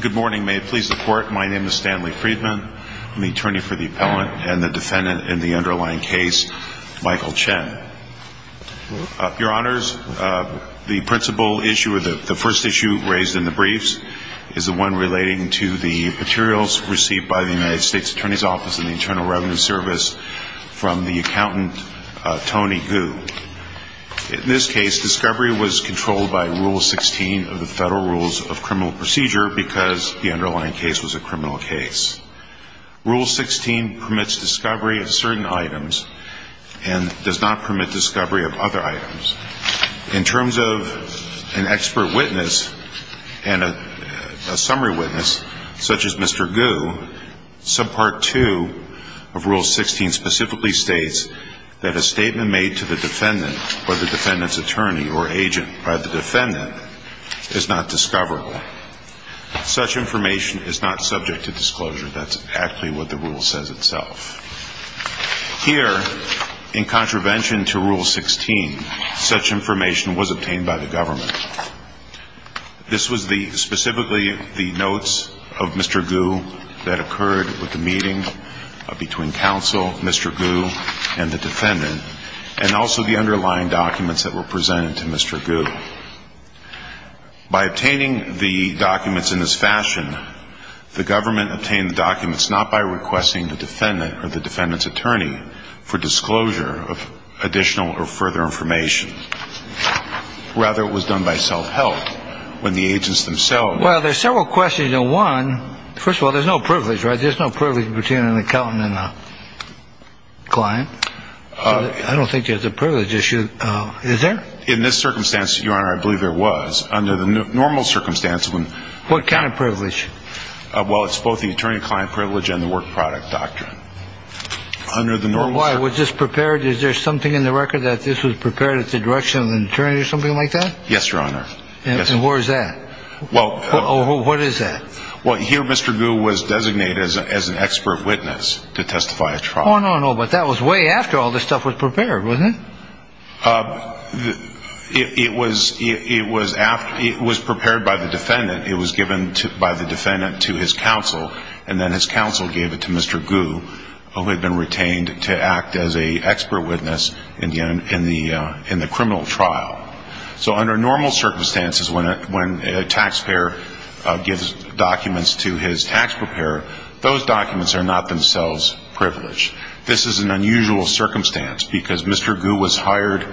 Good morning. May it please the Court, my name is Stanley Friedman. I'm the attorney for the appellant and the defendant in the underlying case, Michael Chen. Your Honors, the principle issue, or the first issue raised in the briefs, is the one relating to the materials received by the United States Attorney's Office and the Internal Revenue Service from the accountant Tony Gu. In this case, discovery was controlled by Rule 16 of the Federal Rules of Criminal Procedure because the underlying case was a criminal case. Rule 16 permits discovery of certain items and does not permit discovery of other items. In terms of an expert witness and a summary witness, such as Mr. Gu, Subpart 2 of Rule 16 specifically states that a statement made to the defendant or the defendant's attorney or agent by the defendant is not discoverable. Such information is not subject to disclosure. That's actually what the rule says itself. Here, in contravention to Rule 16, such information was obtained by the government. This was specifically the notes of Mr. Gu that occurred with the meeting between counsel, Mr. Gu, and the defendant, and also the underlying documents that were presented to Mr. Gu. By obtaining the documents in this fashion, the government obtained the documents not by requesting the defendant or the defendant's attorney for disclosure of additional or further information. Rather, it was done by self-help when the agents themselves... Well, there's several questions, and one, first of all, there's no privilege, right? There's no privilege between an accountant and a client. I don't think there's a privilege issue. Is there? In this circumstance, Your Honor, I believe there was. Under the normal circumstance, when... What kind of privilege? Well, it's both the attorney-client privilege and the work product doctrine. Under the normal... Why? Was this prepared? Is there something in the record that this was prepared at the direction of an attorney or something like that? Yes, Your Honor. And where is that? Well... What is that? Well, here Mr. Gu was designated as an expert witness to testify at trial. Oh, no, no, but that was way after all this stuff was prepared, wasn't it? It was prepared by the defendant. It was given by the defendant to his counsel, and then his counsel gave it to Mr. Gu, who had been retained to act as an expert witness in the criminal trial. So under normal circumstances, when a taxpayer gives documents to his tax preparer, those documents are not themselves privileged. This is an unusual circumstance, because Mr. Gu was hired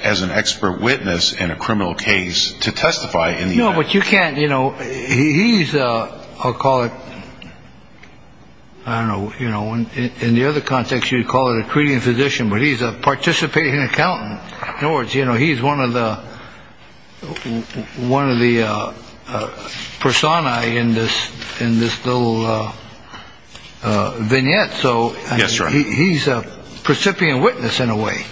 as an expert witness in a criminal case to testify in the event. No, but you can't, you know, he's a... I'll call it... I don't know, you know, in the other context, you'd call it a treating physician, but he's a participating accountant. In other words, you know, he's one of the personae in this little vignette. Yes, Your Honor. So he's a precipient witness in a way.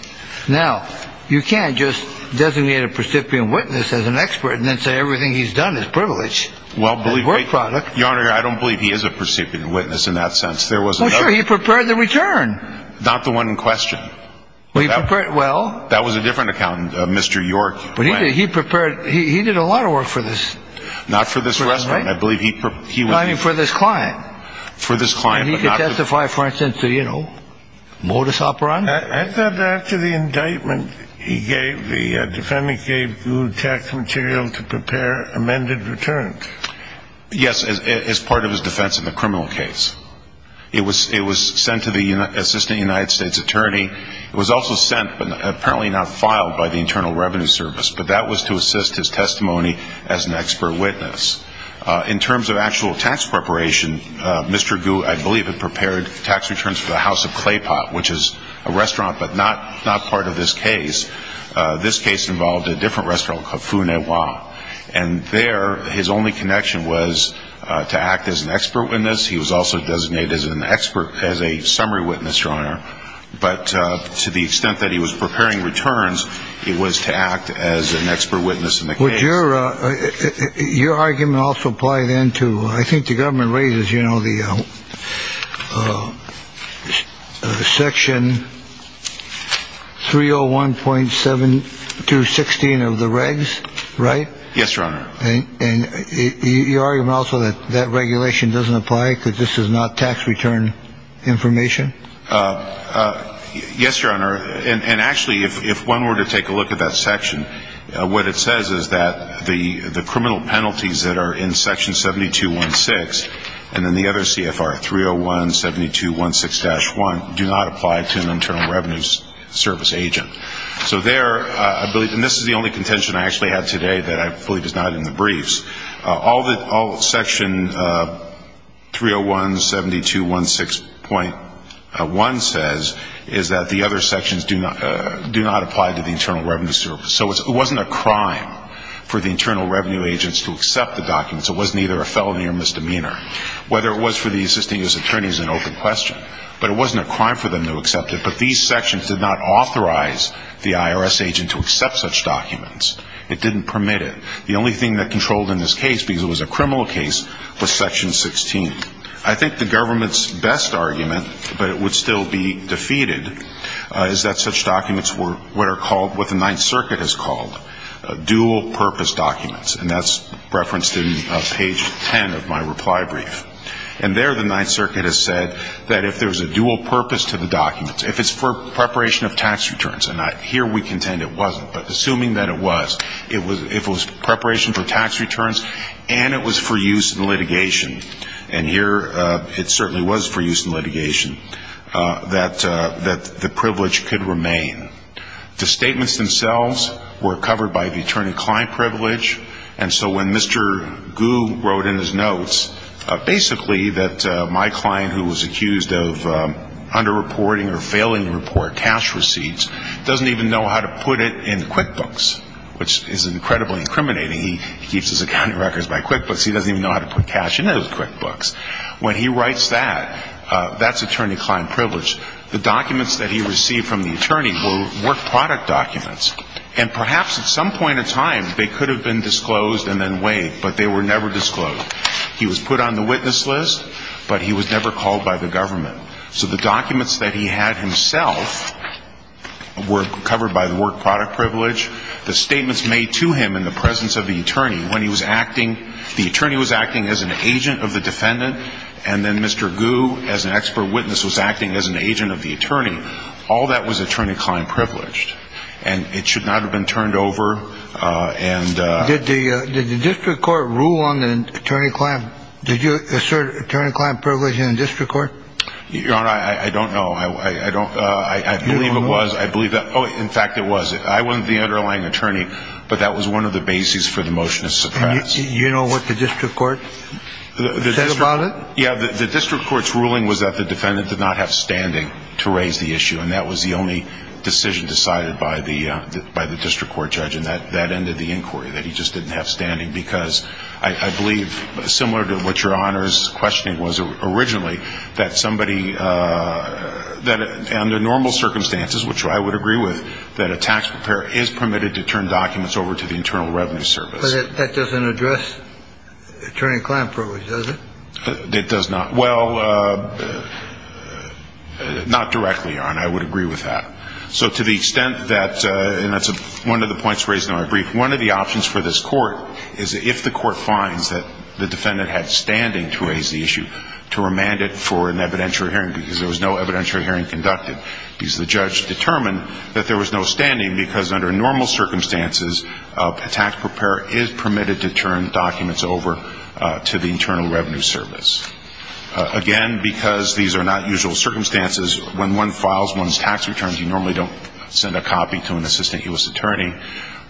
Now, you can't just designate a precipient witness as an expert and then say everything he's done is privileged. Well, believe me... And a work product. Your Honor, I don't believe he is a precipient witness in that sense. There was another... Well, sure, he prepared the return. Not the one in question. Well, he prepared... well... That was a different accountant, Mr. York. But he prepared... he did a lot of work for this... Not for this restaurant. I believe he... I mean, for this client. For this client, but not... And he could testify, for instance, to, you know, modus operandi. I thought after the indictment he gave, the defendant gave you tax material to prepare amended returns. Yes, as part of his defense in the criminal case. It was sent to the Assistant United States Attorney. It was also sent, but apparently not filed, by the Internal Revenue Service. But that was to assist his testimony as an expert witness. In terms of actual tax preparation, Mr. Gu, I believe, had prepared tax returns for the House of Claypot, which is a restaurant, but not part of this case. This case involved a different restaurant called Faux Noir. And there, his only connection was to act as an expert witness. He was also designated as a summary witness, Your Honor. But to the extent that he was preparing returns, it was to act as an expert witness in the case. Would your argument also apply then to... I think the government raises, you know, the Section 301.7216 of the regs, right? Yes, Your Honor. And your argument also that that regulation doesn't apply because this is not tax return information? Yes, Your Honor. And actually, if one were to take a look at that section, what it says is that the criminal penalties that are in Section 7216 and then the other CFR 301.7216-1 do not apply to an Internal Revenue Service agent. So there, I believe, and this is the only contention I actually have today that I fully denied in the briefs. All that Section 301.7216.1 says is that the other sections do not apply to the Internal Revenue Service. So it wasn't a crime for the Internal Revenue Agents to accept the documents. It wasn't either a felony or misdemeanor. Whether it was for the assisting U.S. attorneys is an open question. But it wasn't a crime for them to accept it. But these sections did not authorize the IRS agent to accept such documents. It didn't permit it. The only thing that controlled in this case, because it was a criminal case, was Section 16. I think the government's best argument, but it would still be defeated, is that such documents were what the Ninth Circuit has called dual-purpose documents. And that's referenced in page 10 of my reply brief. And there the Ninth Circuit has said that if there's a dual purpose to the documents, if it's for preparation of tax returns, and here we contend it wasn't, but assuming that it was, if it was preparation for tax returns and it was for use in litigation, and here it certainly was for use in litigation, that the privilege could remain. The statements themselves were covered by the attorney-client privilege. And so when Mr. Gu wrote in his notes basically that my client, who was accused of underreporting or failing to report cash receipts, doesn't even know how to put it in QuickBooks, which is incredibly incriminating. He keeps his accounting records by QuickBooks. He doesn't even know how to put cash in those QuickBooks. When he writes that, that's attorney-client privilege. The documents that he received from the attorney were work product documents. And perhaps at some point in time they could have been disclosed and then waived, but they were never disclosed. He was put on the witness list, but he was never called by the government. So the documents that he had himself were covered by the work product privilege. The statements made to him in the presence of the attorney when he was acting, the attorney was acting as an agent of the defendant, and then Mr. Gu as an expert witness was acting as an agent of the attorney. All that was attorney-client privileged. And it should not have been turned over. Did the district court rule on the attorney-client? Did you assert attorney-client privilege in the district court? Your Honor, I don't know. I believe it was. In fact, it was. I wasn't the underlying attorney, but that was one of the bases for the motion to suppress. Do you know what the district court said about it? Yeah, the district court's ruling was that the defendant did not have standing to raise the issue, and that was the only decision decided by the district court judge, and that ended the inquiry, that he just didn't have standing. Because I believe, similar to what Your Honor's questioning was originally, that somebody under normal circumstances, which I would agree with, that a tax preparer is permitted to turn documents over to the Internal Revenue Service. But that doesn't address attorney-client privilege, does it? It does not. Well, not directly, Your Honor. I would agree with that. So to the extent that, and that's one of the points raised in my brief, one of the options for this court is if the court finds that the defendant had standing to raise the issue, to remand it for an evidentiary hearing, because there was no evidentiary hearing conducted, because the judge determined that there was no standing because under normal circumstances, a tax preparer is permitted to turn documents over to the Internal Revenue Service. Again, because these are not usual circumstances, when one files one's tax returns, you normally don't send a copy to an assistant U.S. attorney.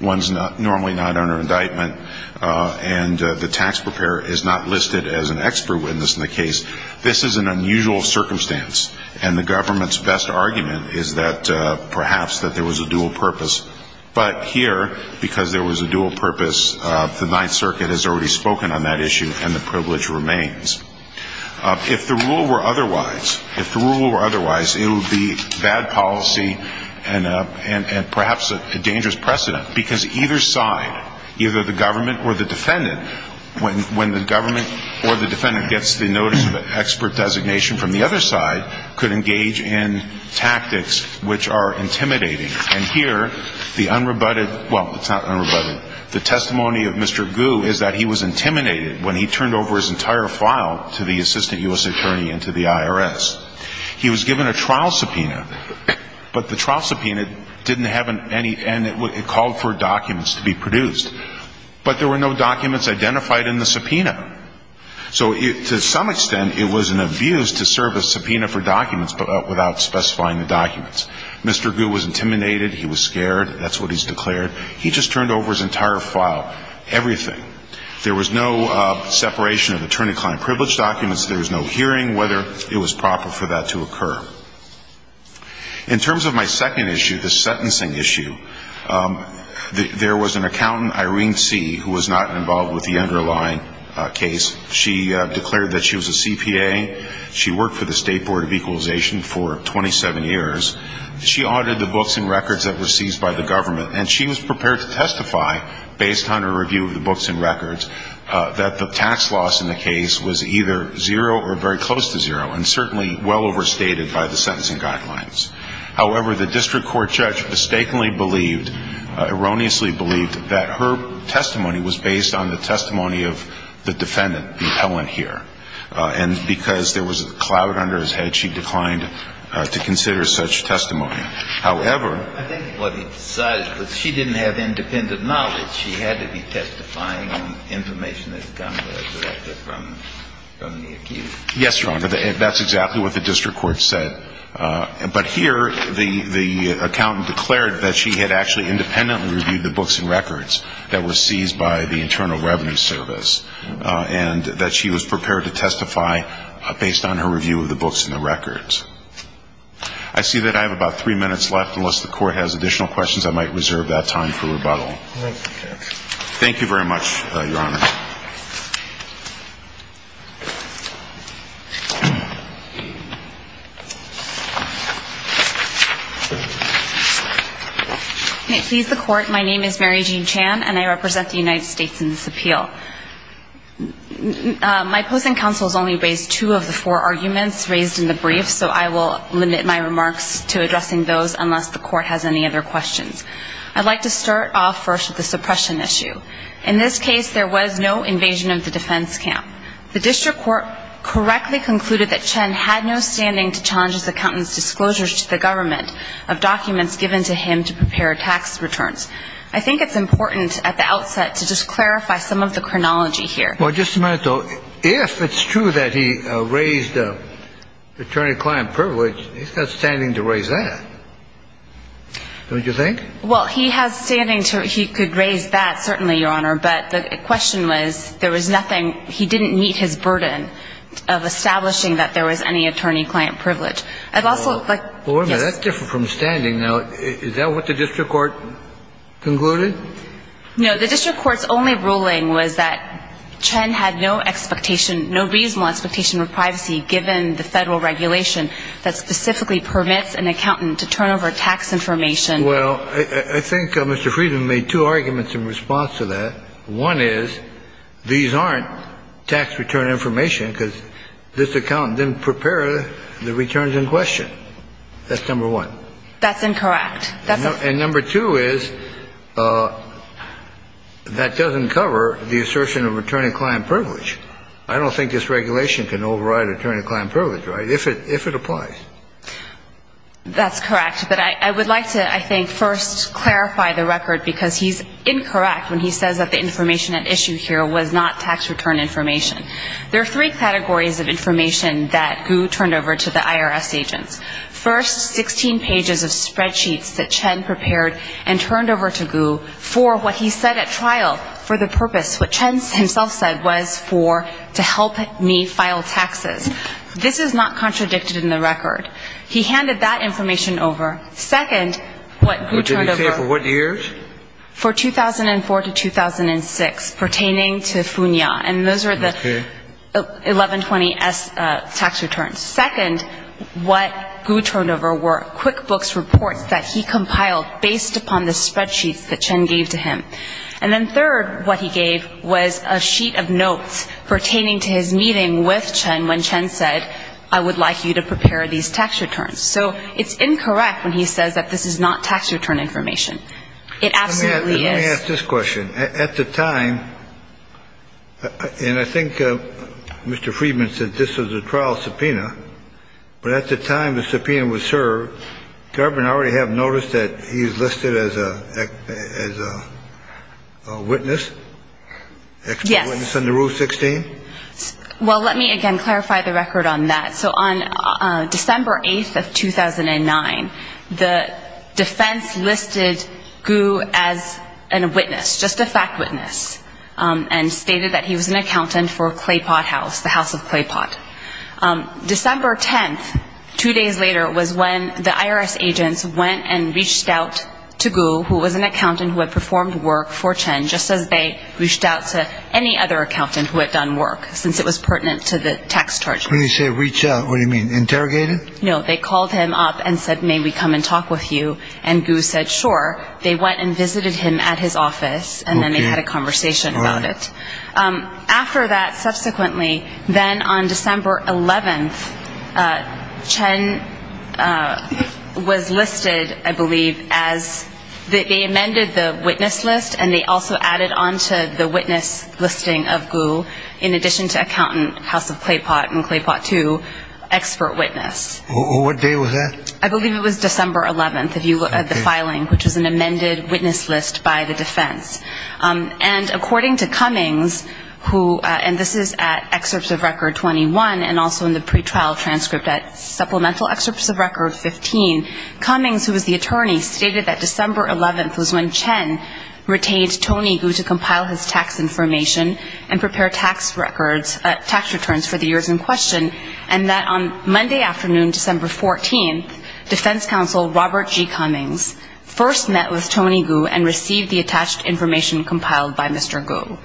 One's normally not under indictment, and the tax preparer is not listed as an expert witness in the case. This is an unusual circumstance, and the government's best argument is that perhaps that there was a dual purpose. But here, because there was a dual purpose, the Ninth Circuit has already spoken on that issue, and the privilege remains. If the rule were otherwise, if the rule were otherwise, it would be bad policy and perhaps a dangerous precedent, because either side, either the government or the defendant, when the government or the defendant gets the notice of expert designation from the other side, could engage in tactics which are intimidating. And here, the unrebutted, well, it's not unrebutted. The testimony of Mr. Gu is that he was intimidated when he turned over his entire file to the assistant U.S. attorney and to the IRS. He was given a trial subpoena, but the trial subpoena didn't have any, and it called for documents to be produced. But there were no documents identified in the subpoena. So to some extent, it was an abuse to serve a subpoena for documents without specifying the documents. Mr. Gu was intimidated. He was scared. That's what he's declared. He just turned over his entire file, everything. There was no separation of attorney-client privilege documents. There was no hearing whether it was proper for that to occur. In terms of my second issue, the sentencing issue, there was an accountant, Irene C., who was not involved with the underlying case. She declared that she was a CPA. She worked for the State Board of Equalization for 27 years. She audited the books and records that were seized by the government, and she was prepared to testify based on her review of the books and records that the tax loss in the case was either zero or very close to zero, and certainly well overstated by the sentencing guidelines. However, the district court judge mistakenly believed, erroneously believed, that her testimony was based on the testimony of the defendant, Helen, here. And because there was a cloud under his head, she declined to consider such testimony. However. I think what he decided was she didn't have independent knowledge. She had to be testifying on information that had come directly from the accused. Yes, Your Honor. That's exactly what the district court said. But here, the accountant declared that she had actually independently reviewed the books and records that were seized by the Internal Revenue Service and that she was prepared to testify based on her review of the books and the records. I see that I have about three minutes left. Unless the Court has additional questions, I might reserve that time for rebuttal. Thank you very much, Your Honor. May it please the Court. My name is Mary Jean Chan, and I represent the United States in this appeal. My opposing counsel has only raised two of the four arguments raised in the brief, so I will limit my remarks to addressing those unless the Court has any other questions. I'd like to start off first with the suppression issue. In this case, there was no invasion of the defense camp. The district court correctly concluded that Chen had no standing to challenge this accountant's disclosures to the government of documents given to him to prepare tax returns. I think it's important at the outset to just clarify some of the chronology here. Well, just a minute, though. If it's true that he raised attorney-client privilege, he's not standing to raise that. Don't you think? Well, he has standing to raise that, certainly, Your Honor. But the question was there was nothing. He didn't meet his burden of establishing that there was any attorney-client privilege. I'd also like to... Wait a minute. That's different from standing. Now, is that what the district court concluded? No. The district court's only ruling was that Chen had no expectation, no reasonable expectation of privacy, given the federal regulation that specifically permits an accountant to turn over tax information. Well, I think Mr. Friedman made two arguments in response to that. One is these aren't tax return information because this accountant didn't prepare the returns in question. That's number one. That's incorrect. And number two is that doesn't cover the assertion of attorney-client privilege. I don't think this regulation can override attorney-client privilege, right, if it applies. That's correct. But I would like to, I think, first clarify the record because he's incorrect when he says that the information at issue here was not tax return information. There are three categories of information that Gu turned over to the IRS agents. First, 16 pages of spreadsheets that Chen prepared and turned over to Gu for what he said at trial for the purpose, what Chen himself said was for to help me file taxes. This is not contradicted in the record. He handed that information over. Second, what Gu turned over... What did he say? For what years? For 2004 to 2006 pertaining to FUNIA. And those are the 1120S tax returns. Second, what Gu turned over were QuickBooks reports that he compiled based upon the spreadsheets that Chen gave to him. And then third, what he gave was a sheet of notes pertaining to his meeting with Chen when Chen said, I would like you to prepare these tax returns. So it's incorrect when he says that this is not tax return information. It absolutely is. Let me ask this question. At the time, and I think Mr. Friedman said this was a trial subpoena, but at the time the subpoena was served, government already have noticed that he's listed as a witness? Yes. As a witness under Rule 16? Well, let me again clarify the record on that. So on December 8th of 2009, the defense listed Gu as a witness, just a fact witness, and stated that he was an accountant for Claypot House, the house of Claypot. December 10th, two days later, was when the IRS agents went and reached out to Gu, who was an accountant who had performed work for Chen, just as they reached out to any other accountant who had done work since it was pertinent to the tax charge. When you say reached out, what do you mean? Interrogated? No, they called him up and said, may we come and talk with you? And Gu said, sure. They went and visited him at his office, and then they had a conversation about it. After that, subsequently, then on December 11th, Chen was listed, I believe, as, they amended the witness list, and they also added on to the witness listing of Gu, in addition to accountant, house of Claypot and Claypot 2, expert witness. What day was that? I believe it was December 11th, if you look at the filing, which was an amended witness list by the defense. And according to Cummings, who, and this is at excerpts of record 21, and also in the pretrial transcript at supplemental excerpts of record 15, Cummings, who was the attorney, stated that December 11th was when Chen retained Tony Gu to compile his tax information and prepare tax records, tax returns for the years in question, and that on Monday afternoon, December 14th, defense counsel Robert G. Cummings first met with Tony Gu and received the attached information compiled by Mr. Gu.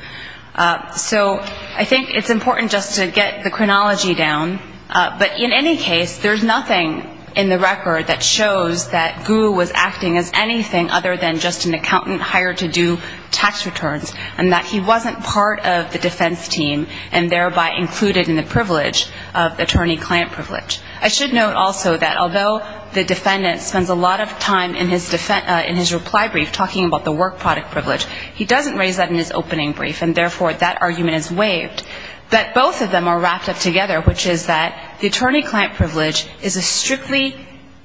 So I think it's important just to get the chronology down. But in any case, there's nothing in the record that shows that Gu was acting as anything other than just an accountant hired to do tax returns, and that he wasn't part of the defense team and thereby included in the privilege of attorney-client privilege. I should note also that although the defendant spends a lot of time in his reply brief talking about the work product privilege, he doesn't raise that in his opening brief, and therefore that argument is waived, that both of them are wrapped up together, which is that the attorney-client privilege is a strictly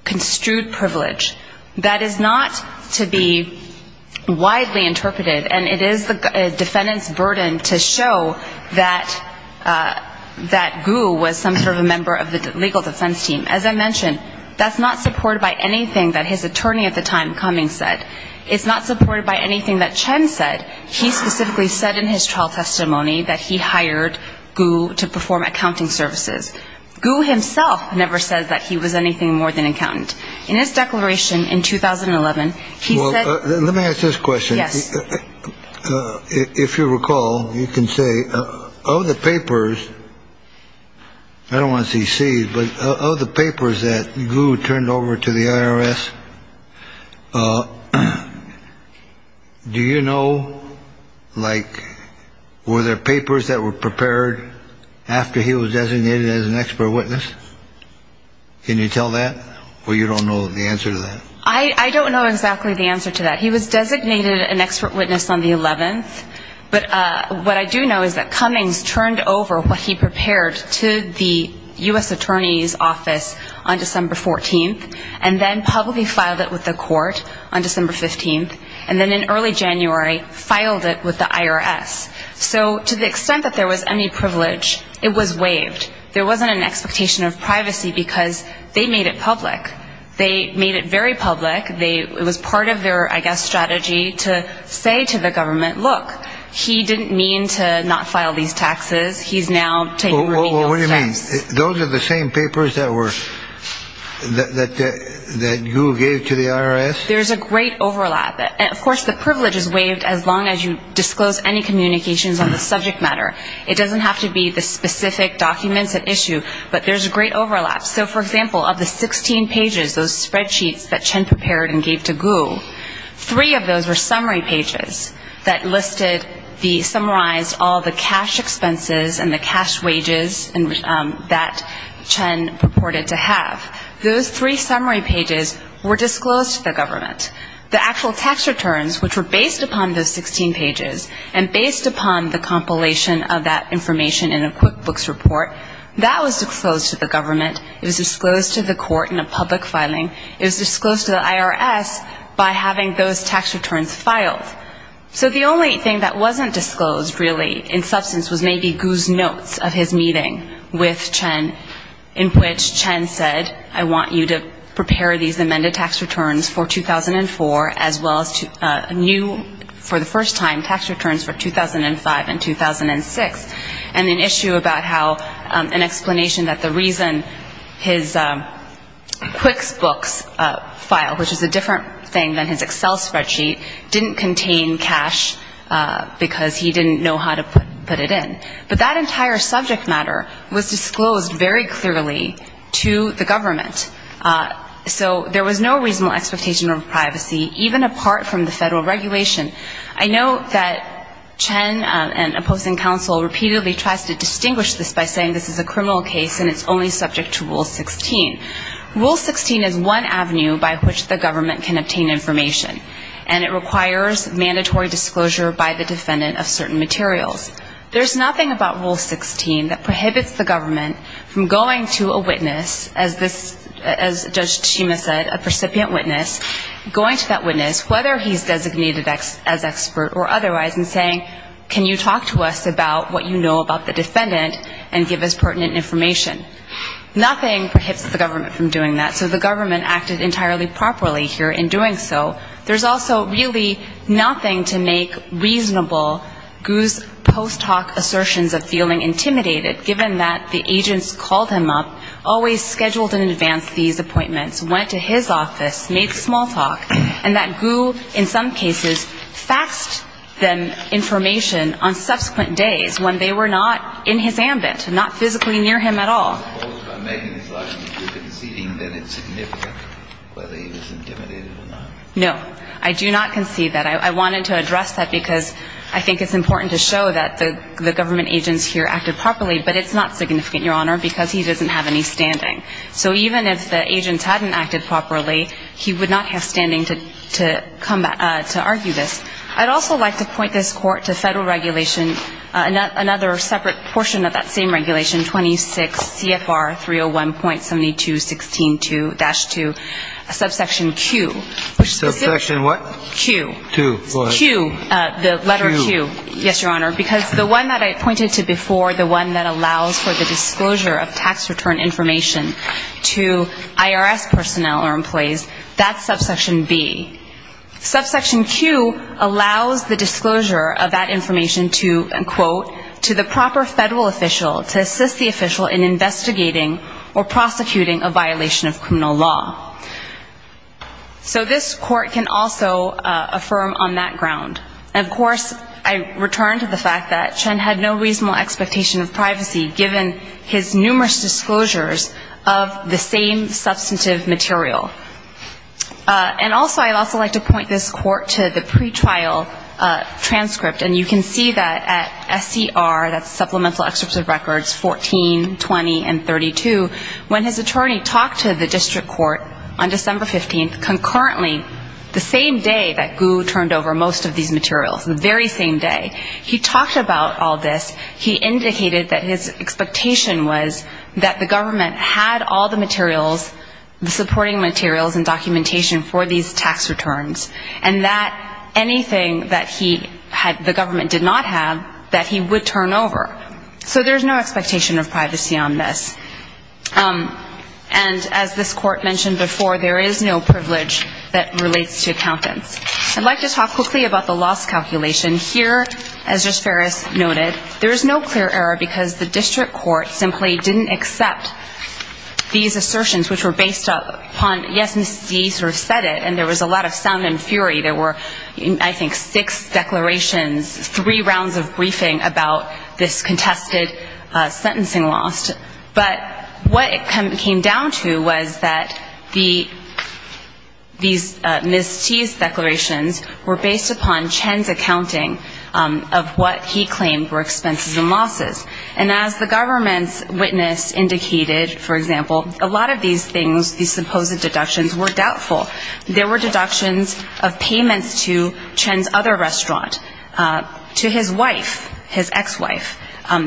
construed privilege that is not to be widely interpreted, and it is the defendant's burden to show that Gu was some sort of a member of the legal defense team. As I mentioned, that's not supported by anything that his attorney at the time, Cummings, said. It's not supported by anything that Chen said. He specifically said in his trial testimony that he hired Gu to perform accounting services. Gu himself never said that he was anything more than an accountant. In his declaration in 2011, he said – Well, let me ask this question. Yes. If you recall, you can say, oh, the papers – I don't want to see seeds, but of the papers that Gu turned over to the IRS, do you know, like, were there papers that were prepared after he was designated as an expert witness? Can you tell that? Or you don't know the answer to that? I don't know exactly the answer to that. He was designated an expert witness on the 11th, but what I do know is that Cummings turned over what he prepared to the U.S. Attorney's Office on December 14th and then publicly filed it with the court on December 15th, and then in early January filed it with the IRS. So to the extent that there was any privilege, it was waived. There wasn't an expectation of privacy because they made it public. They made it very public. It was part of their, I guess, strategy to say to the government, look, he didn't mean to not file these taxes. He's now taking remedial steps. Well, what do you mean? Those are the same papers that were – that Gu gave to the IRS? There's a great overlap. Of course, the privilege is waived as long as you disclose any communications on the subject matter. It doesn't have to be the specific documents at issue, but there's a great overlap. So, for example, of the 16 pages, those spreadsheets that Chen prepared and gave to Gu, three of those were summary pages that listed the – summarized all the cash expenses and the cash wages that Chen purported to have. Those three summary pages were disclosed to the government. The actual tax returns, which were based upon those 16 pages and based upon the compilation of that information in a QuickBooks report, that was disclosed to the government. It was disclosed to the court in a public filing. It was disclosed to the IRS by having those tax returns filed. So the only thing that wasn't disclosed, really, in substance, was maybe Gu's notes of his meeting with Chen, in which Chen said, I want you to prepare these amended tax returns for 2004, as well as new, for the first time, tax returns for 2005 and 2006, and an issue about how – an explanation that the reason his QuickBooks file, which is a different thing than his Excel spreadsheet, didn't contain cash because he didn't know how to put it in. But that entire subject matter was disclosed very clearly to the government. So there was no reasonable expectation of privacy, even apart from the federal regulation. I know that Chen and opposing counsel repeatedly tries to distinguish this by saying this is a criminal case and it's only subject to Rule 16. Rule 16 is one avenue by which the government can obtain information, and it requires mandatory disclosure by the defendant of certain materials. There's nothing about Rule 16 that prohibits the government from going to a witness as Judge Tsushima said, a precipient witness, going to that witness, whether he's designated as expert or otherwise, and saying, can you talk to us about what you know about the defendant and give us pertinent information. Nothing prohibits the government from doing that, so the government acted entirely properly here in doing so. There's also really nothing to make reasonable Gu's post-talk assertions of feeling intimidated, given that the agents called him up, always scheduled in advance these appointments, went to his office, made small talk, and that Gu, in some cases, faxed them information on subsequent days when they were not in his ambit, not physically near him at all. I do not concede that. I wanted to address that because I think it's important to show that the government agents here acted properly, but it's not significant, Your Honor, because he doesn't have any standing. So even if the agents hadn't acted properly, he would not have standing to come back to argue this. I'd also like to point this Court to Federal regulation, another separate portion of that same regulation, 26 CFR 301.7216-2, subsection Q. Subsection what? Q. Q. Go ahead. Q, the letter Q. Q. The one that I pointed to before, the one that allows for the disclosure of tax return information to IRS personnel or employees, that's subsection B. Subsection Q allows the disclosure of that information to, and quote, to the proper Federal official, to assist the official in investigating or prosecuting a violation of criminal law. So this Court can also affirm on that ground. And, of course, I return to the fact that Chen had no reasonable expectation of privacy given his numerous disclosures of the same substantive material. And also I'd also like to point this Court to the pretrial transcript, and you can see that at SCR, that's Supplemental Excerpt of Records 1420 and 32, when his attorney talked to the district court on December 15th, the same day that Gu turned over most of these materials, the very same day, he talked about all this. He indicated that his expectation was that the government had all the materials, the supporting materials and documentation for these tax returns, and that anything that he had, the government did not have, that he would turn over. So there's no expectation of privacy on this. And as this Court mentioned before, there is no privilege that relates to accountants. I'd like to talk quickly about the loss calculation. Here, as just Ferris noted, there is no clear error, because the district court simply didn't accept these assertions, which were based upon, yes, Mr. D sort of said it, and there was a lot of sound and fury. There were, I think, six declarations, three rounds of briefing about this contested sentencing loss. But what it came down to was that these mis-teased declarations were based upon Chen's accounting of what he claimed were expenses and losses. And as the government's witness indicated, for example, a lot of these things, these supposed deductions, were doubtful. There were deductions of payments to Chen's other restaurant, to his wife, his ex-wife,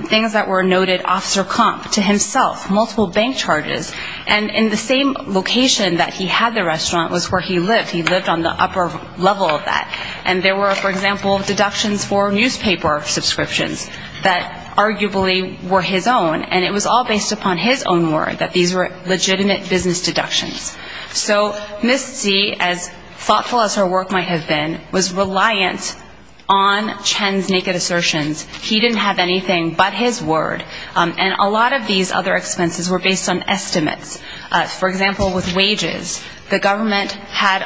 things that were noted, officer comp, to himself, multiple bank charges. And in the same location that he had the restaurant was where he lived. He lived on the upper level of that. And there were, for example, deductions for newspaper subscriptions that arguably were his own, and it was all based upon his own word that these were legitimate business deductions. So Ms. Tse, as thoughtful as her work might have been, was reliant on Chen's naked assertions. He didn't have anything but his word. And a lot of these other expenses were based on estimates. For example, with wages, the government had,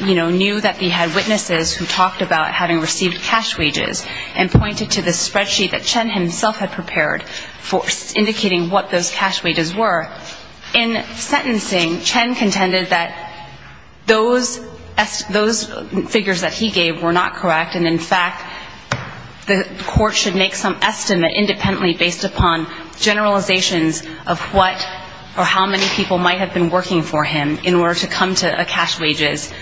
you know, knew that they had witnesses who talked about having received cash wages and pointed to the spreadsheet that Chen himself had prepared for indicating what those cash wages were. In sentencing, Chen contended that those figures that he gave were not correct, and, in fact, the court should make some estimate independently based upon generalizations of what or how many people might have been working for him in order to come to a cash wages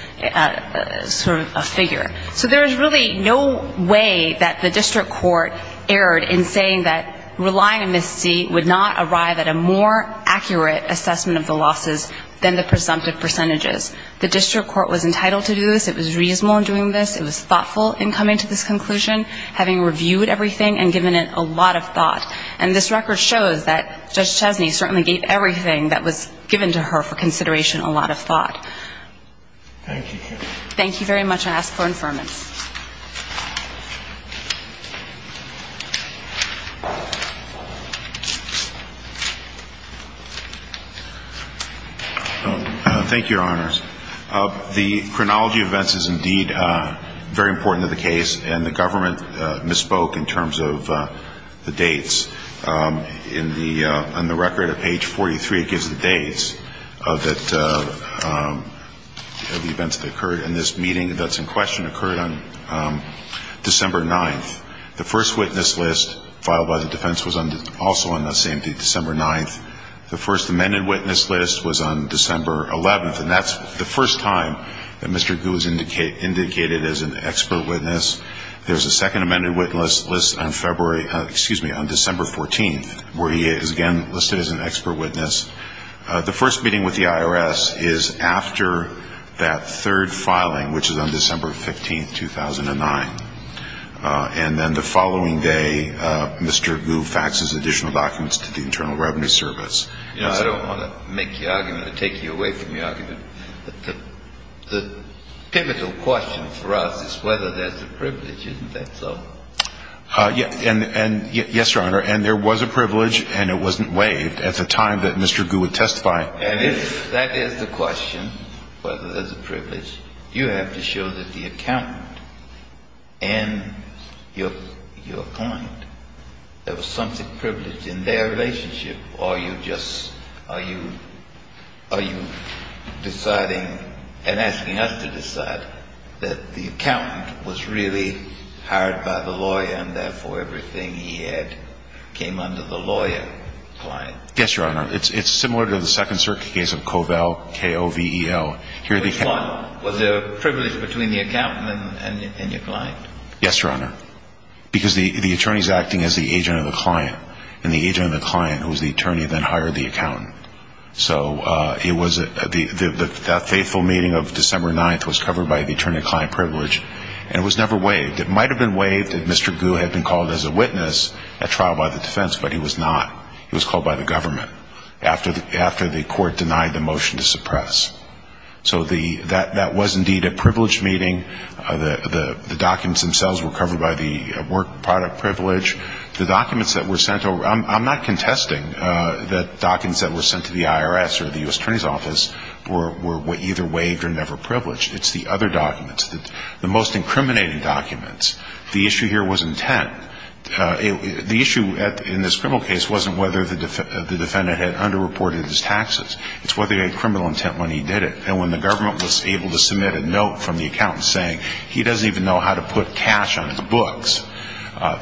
sort of figure. So there is really no way that the district court erred in saying that relying on Ms. Tse would not arrive at a more accurate assessment of the losses than the presumptive percentages. The district court was entitled to do this. It was reasonable in doing this. It was thoughtful in coming to this conclusion, having reviewed everything and given it a lot of thought. And this record shows that Judge Chesney certainly gave everything that was given to her for consideration a lot of thought. Thank you. Thank you very much. Thank you, Your Honors. The chronology of events is indeed very important to the case, and the government misspoke in terms of the dates. On the record at page 43, it gives the dates of the events that occurred. And this meeting that's in question occurred on December 9th. The first witness list filed by the defense was also on that same day, December 9th. The first amended witness list was on December 11th, and that's the first time that Mr. Gu was indicated as an expert witness. There's a second amended witness list on February ‑‑ excuse me, on December 14th, where he is again listed as an expert witness. The first meeting with the IRS is after that third filing, which is on December 15th, 2009. And then the following day, Mr. Gu faxes additional documents to the Internal Revenue Service. I don't want to make your argument or take you away from your argument, but the pivotal question for us is whether there's a privilege. Isn't that so? Yes, Your Honor. And there was a privilege, and it wasn't waived at the time that Mr. Gu would testify. And if that is the question, whether there's a privilege, you have to show that the accountant and your client, there was something privileged in their relationship, or are you just deciding and asking us to decide that the accountant was really hired by the lawyer and therefore everything he had came under the lawyer's client? Yes, Your Honor. It's similar to the Second Circuit case of Kovel, K-O-V-E-L. Which one was the privilege between the accountant and your client? Yes, Your Honor. Because the attorney is acting as the agent of the client, and the agent of the client, who is the attorney, then hired the accountant. So that faithful meeting of December 9th was covered by the attorney-client privilege, and it was never waived. It might have been waived if Mr. Gu had been called as a witness at trial by the defense, but he was not. He was called by the government after the court denied the motion to suppress. So that was indeed a privileged meeting. The documents themselves were covered by the work product privilege. The documents that were sent over, I'm not contesting that documents that were sent to the IRS or the U.S. Attorney's Office were either waived or never privileged. It's the other documents, the most incriminating documents. The issue here wasn't intent. The issue in this criminal case wasn't whether the defendant had underreported his taxes. It's whether he had criminal intent when he did it. And when the government was able to submit a note from the accountant saying, he doesn't even know how to put cash on his books,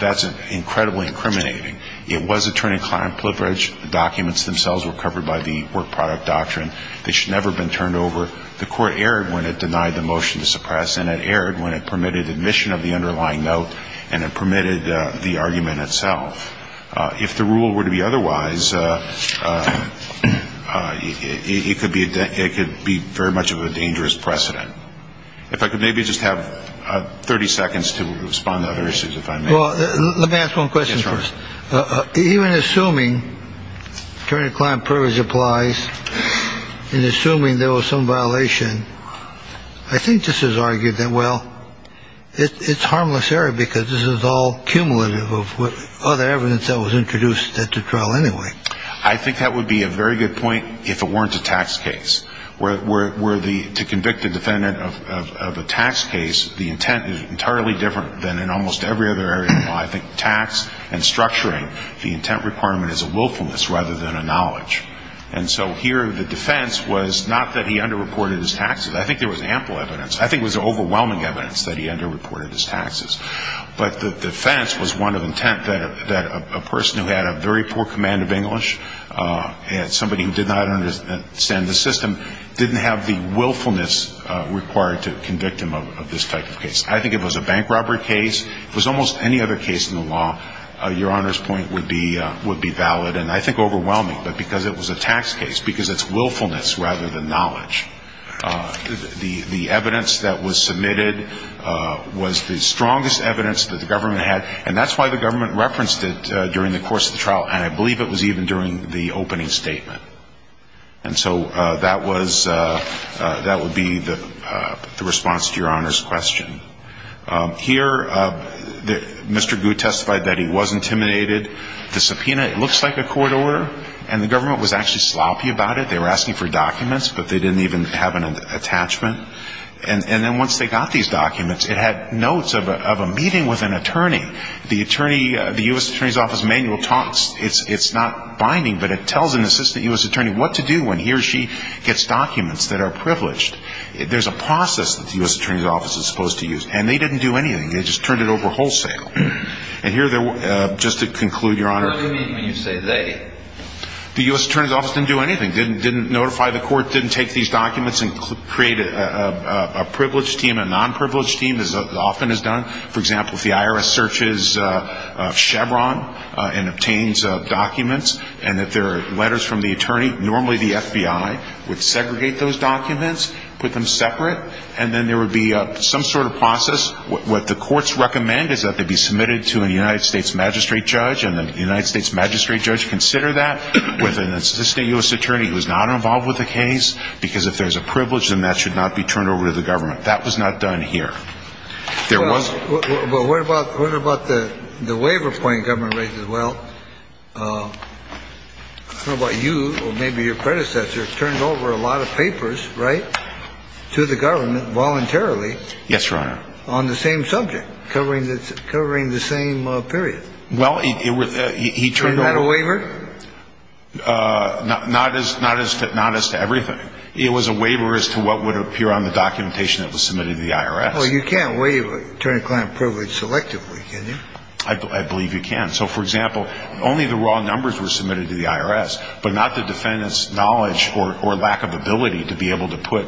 that's incredibly incriminating. It was attorney-client privilege. The documents themselves were covered by the work product doctrine. They should never have been turned over. The court erred when it denied the motion to suppress, and it erred when it permitted admission of the underlying note and it permitted the argument itself. If the rule were to be otherwise, it could be very much of a dangerous precedent. If I could maybe just have 30 seconds to respond to other issues if I may. Well, let me ask one question first. Even assuming attorney-client privilege applies and assuming there was some violation, I think this is argued that, well, it's harmless error because this is all cumulative of other evidence that was introduced at the trial anyway. I think that would be a very good point if it weren't a tax case. Where to convict a defendant of a tax case, the intent is entirely different than in almost every other area. I think tax and structuring, the intent requirement is a willfulness rather than a knowledge. And so here the defense was not that he underreported his taxes. I think there was ample evidence. I think it was overwhelming evidence that he underreported his taxes. But the defense was one of intent that a person who had a very poor command of English and somebody who did not understand the system didn't have the willfulness required to convict him of this type of case. I think it was a bank robbery case. It was almost any other case in the law, Your Honor's point would be valid and I think overwhelming, but because it was a tax case, because it's willfulness rather than knowledge. The evidence that was submitted was the strongest evidence that the government had, and that's why the government referenced it during the course of the trial, and I believe it was even during the opening statement. And so that was the response to Your Honor's question. Here Mr. Gu testified that he was intimidated. The subpoena looks like a court order, and the government was actually sloppy about it. They were asking for documents, but they didn't even have an attachment. And then once they got these documents, it had notes of a meeting with an attorney. The attorney, the U.S. Attorney's Office manual talks. It's not binding, but it tells an assistant U.S. attorney what to do when he or she gets documents that are privileged. There's a process that the U.S. Attorney's Office is supposed to use, and they didn't do anything. They just turned it over wholesale. And here, just to conclude, Your Honor. What do you mean when you say they? The U.S. Attorney's Office didn't do anything. Didn't notify the court, didn't take these documents, and create a privileged team, a non-privileged team, as often is done. For example, if the IRS searches Chevron and obtains documents, and that there are letters from the attorney, normally the FBI would segregate those documents, put them separate, and then there would be some sort of process. What the courts recommend is that they be submitted to a United States magistrate judge, and the United States magistrate judge consider that with an assistant U.S. attorney who is not involved with the case, because if there's a privilege, then that should not be turned over to the government. That was not done here. There was. But what about the waiver point government raises? Well, I don't know about you, or maybe your predecessor, turned over a lot of papers, right, to the government voluntarily. Yes, Your Honor. On the same subject, covering the same period. Well, he turned over. And that a waiver? Not as to everything. It was a waiver as to what would appear on the documentation that was submitted to the IRS. Well, you can't turn a client privileged selectively, can you? I believe you can. So, for example, only the raw numbers were submitted to the IRS, but not the defendant's knowledge or lack of ability to be able to put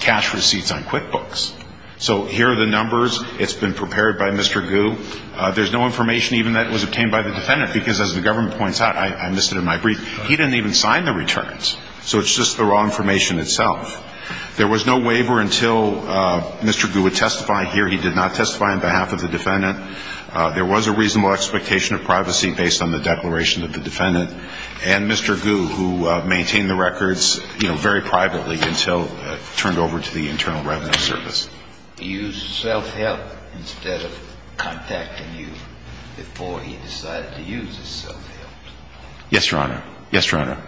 cash receipts on QuickBooks. So here are the numbers. It's been prepared by Mr. Gu. There's no information even that was obtained by the defendant, because as the government points out, I missed it in my brief, he didn't even sign the returns. So it's just the raw information itself. There was no waiver until Mr. Gu would testify here. He did not testify on behalf of the defendant. There was a reasonable expectation of privacy based on the declaration of the defendant. And Mr. Gu, who maintained the records, you know, very privately until turned over to the Internal Revenue Service. He used self-help instead of contacting you before he decided to use his self-help. Yes, Your Honor. Yes, Your Honor.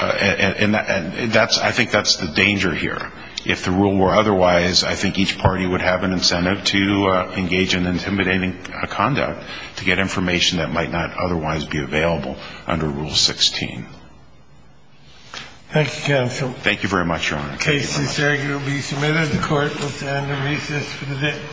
And I think that's the danger here. If the rule were otherwise, I think each party would have an incentive to engage in intimidating conduct to get information that might not otherwise be available under Rule 16. Thank you, counsel. Thank you very much, Your Honor. The case is here to be submitted. The court will stand and recess for the day.